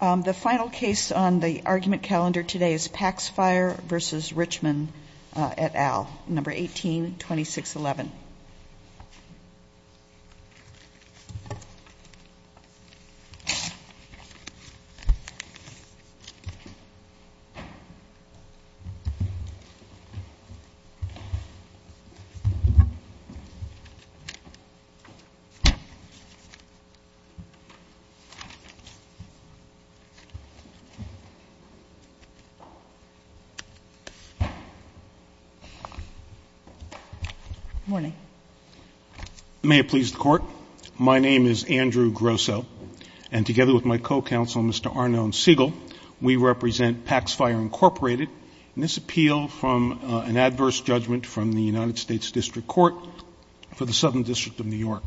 The final case on the argument calendar today is Paxfire v. Richman et al., number 182611. My name is Andrew Grosseau, and together with my co-counsel, Mr. Arnon Siegel, we represent Paxfire, Inc., in this appeal from an adverse judgment from the United States District Court for the Southern District of New York.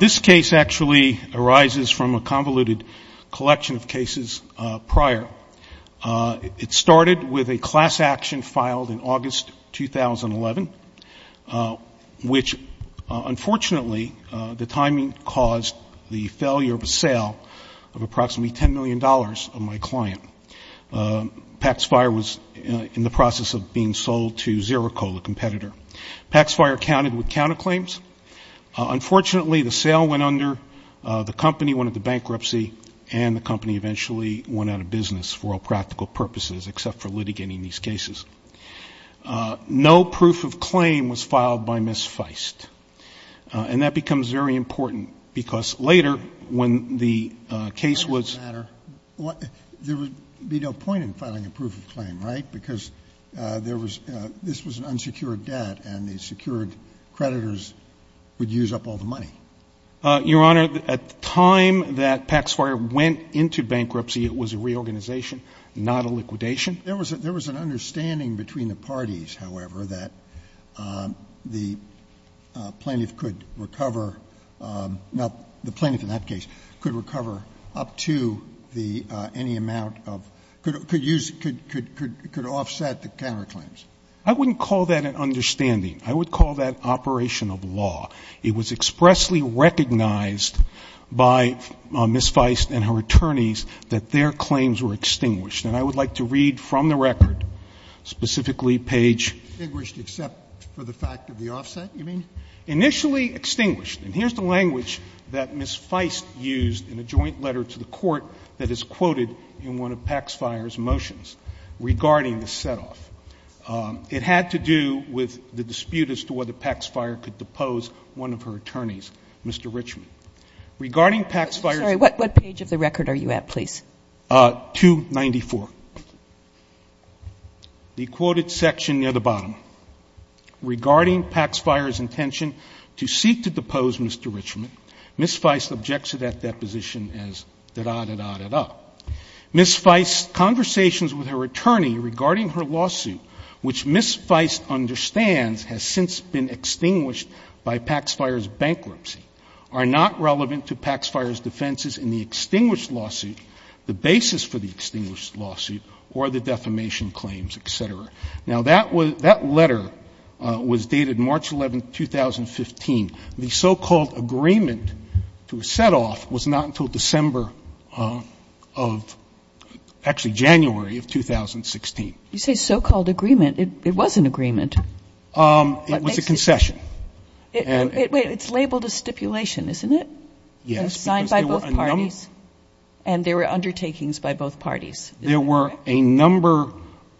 This case actually arises from a convoluted collection of cases prior. It started with a class action filed in August 2011, which, unfortunately, the timing caused the failure of a sale of approximately $10 million of my client. Paxfire was in the process of being sold to Zerocola competitor. Paxfire counted with counterclaims. Unfortunately, the sale went under, the company went into bankruptcy, and the company eventually went out of business for all practical purposes except for litigating these cases. No proof of claim was filed by Ms. Feist. And that becomes very important, because later, when the case was — There would be no point in filing a proof of claim, right? Because there was — this was an unsecured debt, and the secured creditors would use up all the money. Your Honor, at the time that Paxfire went into bankruptcy, it was a reorganization, not a liquidation. There was an understanding between the parties, however, that the plaintiff could recover — now, the plaintiff in that case could recover up to the — any amount of — could use — could offset the counterclaims. I wouldn't call that an understanding. I would call that operation of law. It was expressly recognized by Ms. Feist and her attorneys that their claims were extinguished. And I would like to read from the record, specifically page — Extinguished except for the fact of the offset, you mean? Initially extinguished — and here's the language that Ms. Feist used in a joint letter to the Court that is quoted in one of Paxfire's motions regarding the setoff. It had to do with the dispute as to whether Paxfire could depose one of her attorneys, Mr. Richman. Regarding Paxfire's — I'm sorry. What page of the record are you at, please? 294. The quoted section near the bottom. Regarding Paxfire's intention to seek to depose Mr. Richman, Ms. Feist objects to that deposition as da-da-da-da-da. Ms. Feist's conversations with her attorney regarding her lawsuit, which Ms. Feist understands has since been extinguished by Paxfire's bankruptcy, are not relevant to Paxfire's defenses in the extinguished lawsuit, the basis for the extinguished lawsuit, or the defamation claims, et cetera. Now, that letter was dated March 11, 2015. The so-called agreement to a setoff was not until December of — actually, January of 2016. You say so-called agreement. It was an agreement. It was a concession. Wait. It's labeled a stipulation, isn't it? Yes. And signed by both parties. And there were undertakings by both parties. There were a number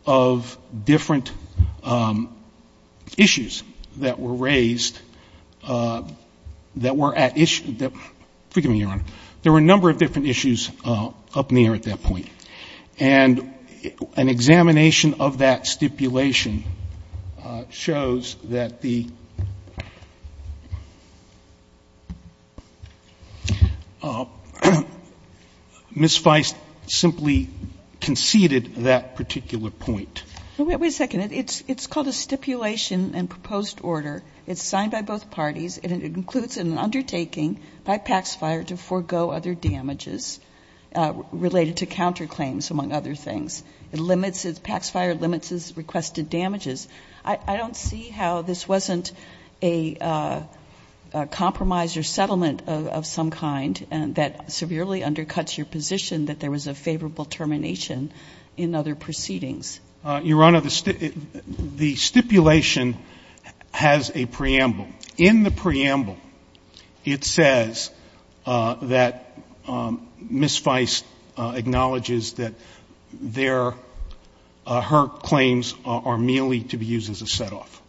of different issues that were raised that were at issue — forgive me, Your Honor. There were a number of different issues up in the air at that point. And an examination of that stipulation shows that the — Ms. Feist simply conceded that particular point. Wait a second. It's called a stipulation and proposed order. It's signed by both parties, and it includes an undertaking by Paxfire to forego other damages related to counterclaims, among other things. It limits — Paxfire limits its requested damages. I don't see how this wasn't a compromise or settlement of some kind that severely undercuts your position that there was a favorable termination in other proceedings. Your Honor, the stipulation has a preamble. In the preamble, it says that Ms. Feist acknowledges that their — her claims are merely to be used as a set-off.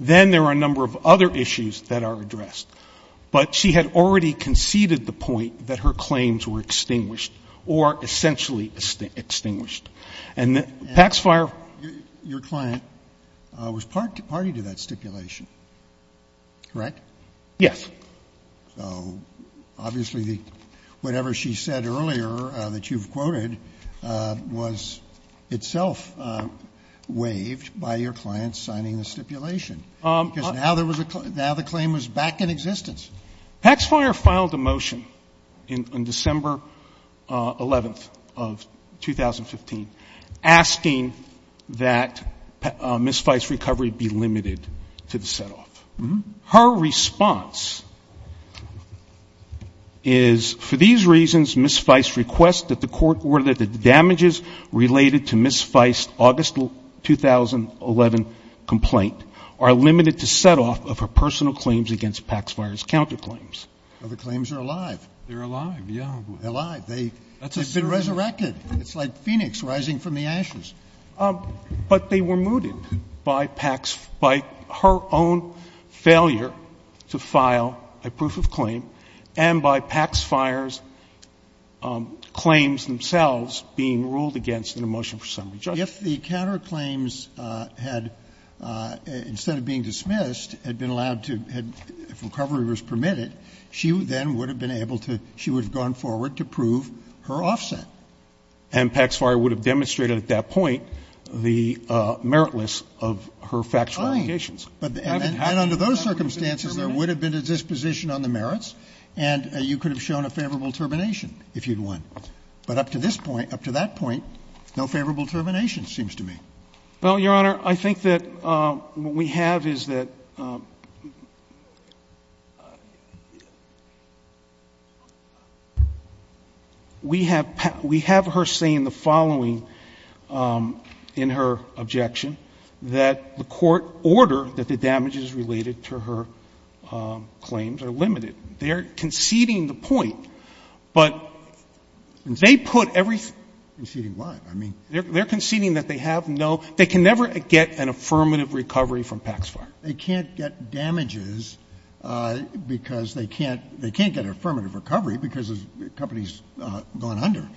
Then there are a number of other issues that are addressed. But she had already conceded the point that her claims were extinguished, or essentially extinguished. And Paxfire — And your client was party to that stipulation, correct? Yes. So obviously, whatever she said earlier that you've quoted was itself waived by your client signing the stipulation. Because now there was a — now the claim was back in existence. Paxfire filed a motion on December 11th of 2015 asking that Ms. Feist's recovery be limited to the set-off. Her response is, for these reasons, Ms. Feist requests that the court — or that the damages related to Ms. Feist's August 2011 complaint are limited to set-off of her personal claims against Paxfire's counterclaims. Well, the claims are alive. They're alive, yeah. They're alive. They've been resurrected. It's like Phoenix rising from the ashes. But they were mooted by Pax — by her own failure to file a proof of claim and by Paxfire's claims themselves being ruled against in the motion for summary judgment. If the counterclaims had — instead of being dismissed, had been allowed to — if recovery was permitted, she then would have been able to — she would have gone forward to prove her offset. And Paxfire would have demonstrated at that point the meritless of her factual allegations. Oh. And under those circumstances, there would have been a disposition on the merits, and you could have shown a favorable termination if you'd won. But up to this point, up to that point, no favorable termination seems to me. Well, Your Honor, I think that what we have is that we have — we have her saying the following in her objection, that the court ordered that the damages related to her claims are limited. They are conceding the point, but they put everything — Conceding what? I mean — They're conceding that they have no — they can never get an affirmative recovery from Paxfire. They can't get damages because they can't — they can't get an affirmative recovery because the company's gone under.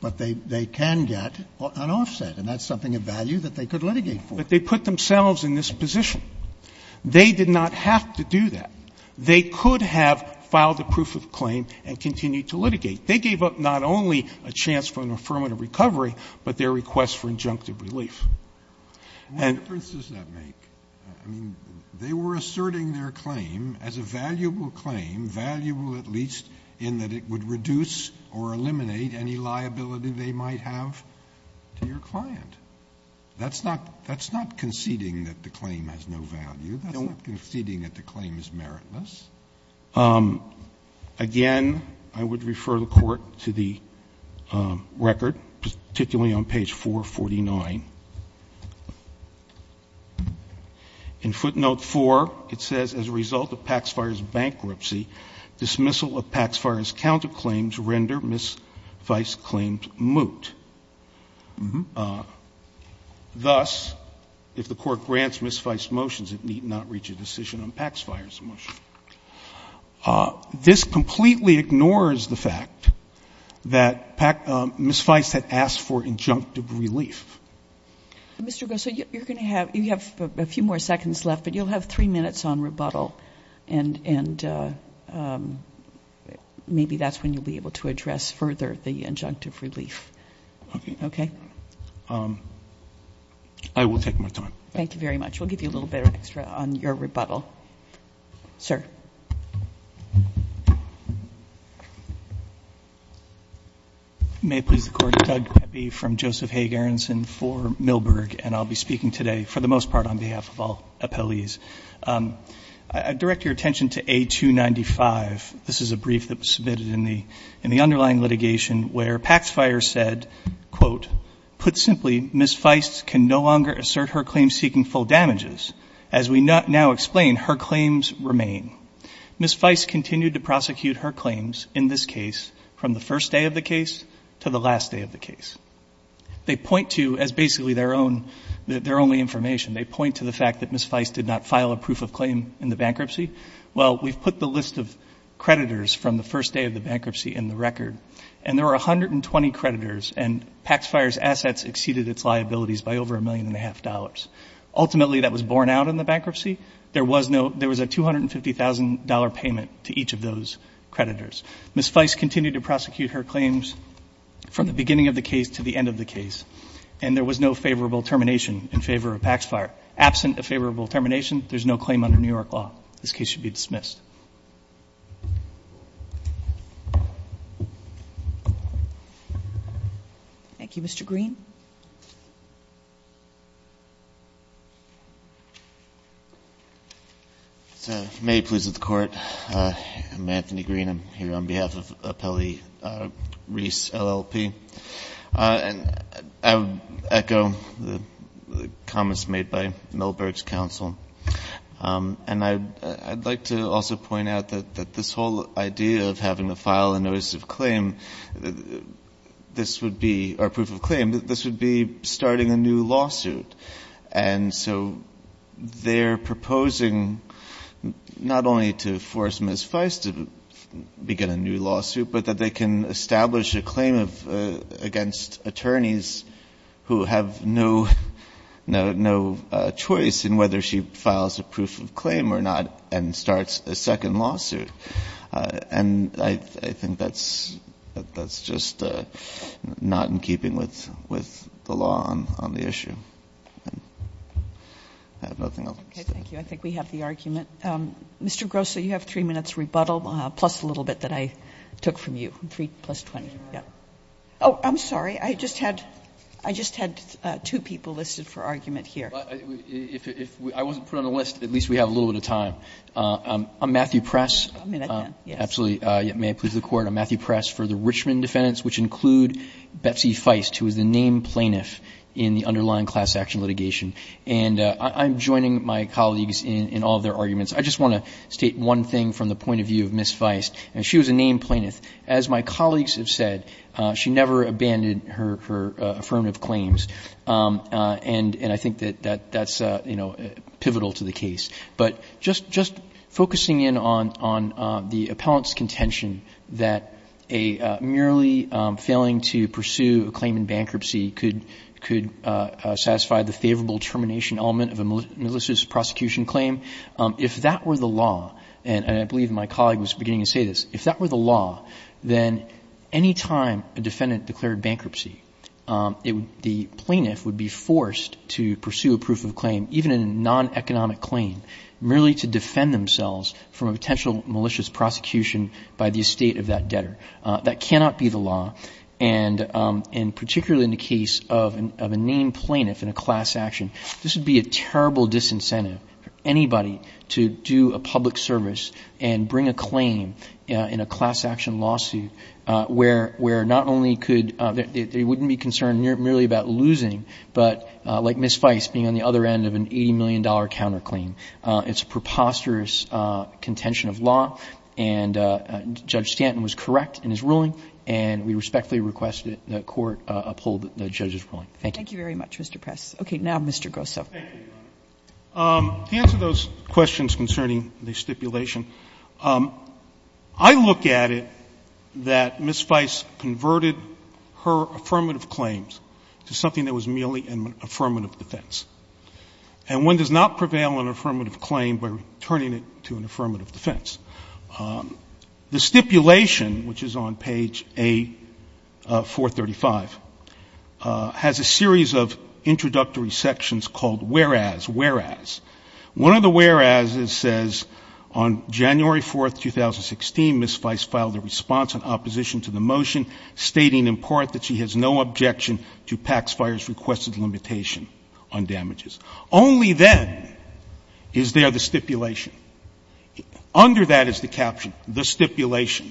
But they can get an offset, and that's something of value that they could litigate for. But they put themselves in this position. They did not have to do that. They could have filed a proof of claim and continued to litigate. They gave up not only a chance for an affirmative recovery, but their request for injunctive relief. And — What difference does that make? I mean, they were asserting their claim as a valuable claim, valuable at least in that it would reduce or eliminate any liability they might have to your client. That's not — that's not conceding that the claim has no value. That's not conceding that the claim is meritless. Again, I would refer the Court to the record, particularly on page 449. In footnote 4, it says, As a result of Paxfire's bankruptcy, dismissal of Paxfire's counterclaims render misviced claims moot. Thus, if the Court grants misviced motions, it need not reach a decision on Paxfire's motion. This completely ignores the fact that misviced had asked for injunctive relief. Mr. Gosar, you're going to have — you have a few more seconds left, but you'll have three minutes on rebuttal, and maybe that's when you'll be able to address further the injunctive relief. Okay? Okay. I will take my time. Thank you very much. We'll give you a little bit extra on your rebuttal. Sir. May it please the Court, I'm Doug Pepe from Joseph Haig Aronson for Millburg, and I'll be speaking today for the most part on behalf of all appellees. I direct your attention to A295. This is a brief that was submitted in the underlying litigation where Paxfire said, quote, put simply, misviced can no longer assert her claims seeking full damages. As we now explain, her claims remain. Misviced continued to prosecute her claims in this case from the first day of the case to the last day of the case. They point to, as basically their own — their only information, they point to the fact that misviced did not file a proof of claim in the bankruptcy. Well, we've put the list of creditors from the first day of the bankruptcy in the record, and there were 120 creditors, and Paxfire's assets exceeded its liabilities by over a million and a half dollars. Ultimately, that was borne out in the bankruptcy. There was no — there was a $250,000 payment to each of those creditors. Misviced continued to prosecute her claims from the beginning of the case to the end of the case, and there was no favorable termination in favor of Paxfire. Absent a favorable termination, there's no claim under New York law. This case should be dismissed. Thank you. Mr. Green. May it please the Court. I'm Anthony Green. I'm here on behalf of Appellee Reese, LLP. And I would echo the comments made by Millberg's counsel. And I'd like to also point out that this whole idea of having to file a notice of claim, this would be — or proof of claim, this would be starting a new lawsuit. And so they're proposing not only to force Misviced to begin a new lawsuit, but that it can establish a claim of — against attorneys who have no — no choice in whether she files a proof of claim or not and starts a second lawsuit. And I think that's — that's just not in keeping with — with the law on the issue. I have nothing else to say. Okay. Thank you. I think we have the argument. Mr. Gross, you have 3 minutes rebuttal, plus a little bit that I took from you. 3 plus 20. Oh, I'm sorry. I just had — I just had two people listed for argument here. If I wasn't put on the list, at least we have a little bit of time. I'm Matthew Press. A minute, yes. May it please the Court. I'm Matthew Press for the Richmond defendants, which include Betsy Feist, who is the named plaintiff in the underlying class action litigation. And I'm joining my colleagues in all of their arguments. I just want to state one thing from the point of view of Ms. Feist. She was a named plaintiff. As my colleagues have said, she never abandoned her affirmative claims. And I think that that's, you know, pivotal to the case. But just focusing in on the appellant's contention that a merely failing to pursue a claim in bankruptcy could satisfy the favorable termination element of a malicious prosecution claim, if that were the law — and I believe my colleague was beginning to say this — if that were the law, then any time a defendant declared bankruptcy, the plaintiff would be forced to pursue a proof of claim, even a non-economic claim, merely to defend themselves from a potential malicious prosecution by the estate of that debtor. That cannot be the law. And particularly in the case of a named plaintiff in a class action, this would be a terrible disincentive for anybody to do a public service and bring a claim in a class action lawsuit where not only could — they wouldn't be concerned merely about losing, but like Ms. Feist, being on the other end of an $80 million counterclaim. It's a preposterous contention of law. And Judge Stanton was correct in his ruling. And we respectfully request that the Court uphold the judge's ruling. Thank you. Thank you very much, Mr. Press. Okay. Now Mr. Grosso. Thank you, Your Honor. To answer those questions concerning the stipulation, I look at it that Ms. Feist converted her affirmative claims to something that was merely an affirmative defense. And one does not prevail on an affirmative claim by returning it to an affirmative defense. The stipulation, which is on page A435, has a series of introductory sections called whereas, whereas. One of the whereas's says, on January 4th, 2016, Ms. Feist filed a response in opposition to the motion stating in part that she has no objection to PACS fire's requested limitation on damages. Only then is there the stipulation. Under that is the caption, the stipulation,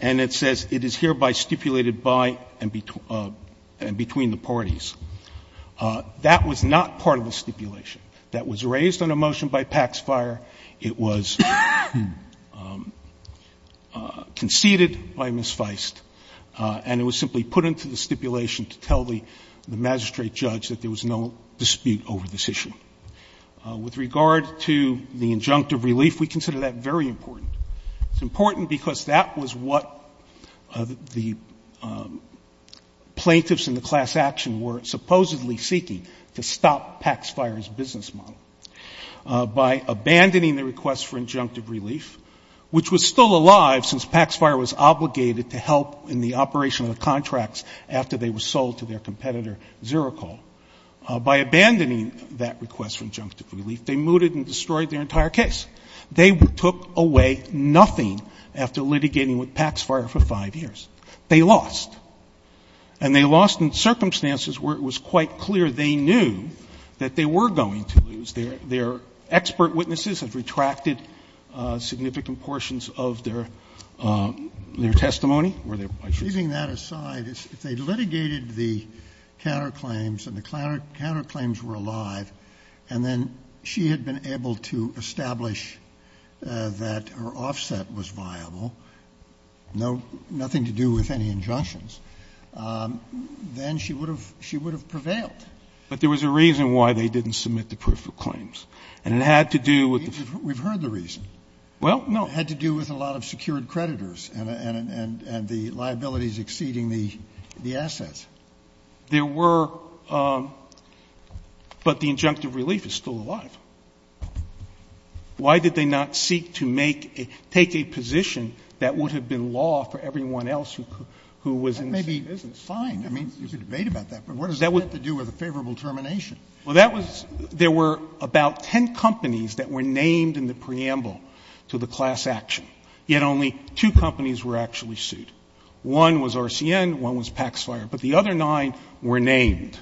and it says it is hereby stipulated by and between the parties. That was not part of the stipulation. That was raised on a motion by PACS fire. It was conceded by Ms. Feist. And it was simply put into the stipulation to tell the magistrate judge that there was no dispute over this issue. With regard to the injunctive relief, we consider that very important. It's important because that was what the plaintiffs in the class action were supposedly seeking to stop PACS fire's business model. By abandoning the request for injunctive relief, which was still alive since PACS fire was obligated to help in the operation of the contracts after they were sold to their competitor, Zerocol. By abandoning that request for injunctive relief, they mooted and destroyed their entire case. They took away nothing after litigating with PACS fire for 5 years. They lost. And they lost in circumstances where it was quite clear they knew that they were going to lose. Their expert witnesses have retracted significant portions of their testimony or their questions. Leaving that aside, if they litigated the counterclaims and the counterclaims were alive, and then she had been able to establish that her offset was viable, nothing to do with any injunctions, then she would have prevailed. But there was a reason why they didn't submit the proof of claims. And it had to do with the ---- We've heard the reason. Well, no. It had to do with a lot of secured creditors and the liabilities exceeding the assets. There were ---- but the injunctive relief is still alive. Why did they not seek to make a ---- take a position that would have been law for everyone else who was in the same business? That maybe isn't fine. I mean, you could debate about that, but what does that have to do with a favorable termination? Well, that was ---- there were about 10 companies that were named in the preamble to the class action, yet only two companies were actually sued. One was RCN, one was Paxfire, but the other nine were named.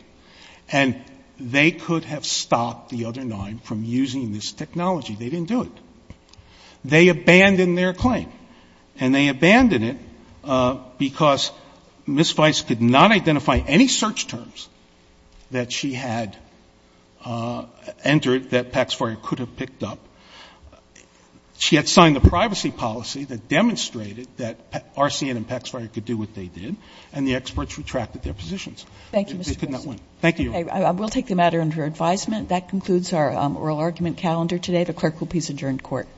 And they could have stopped the other nine from using this technology. They didn't do it. They abandoned their claim, and they abandoned it because Ms. Weiss could not identify any search terms that she had entered that Paxfire could have picked up. She had signed a privacy policy that demonstrated that RCN and Paxfire could do what they did, and the experts retracted their positions. They could not win. Thank you. I will take the matter under advisement. That concludes our oral argument calendar today. The clerk will please adjourn to court. Court is adjourned. Court is adjourned. Court is adjourned.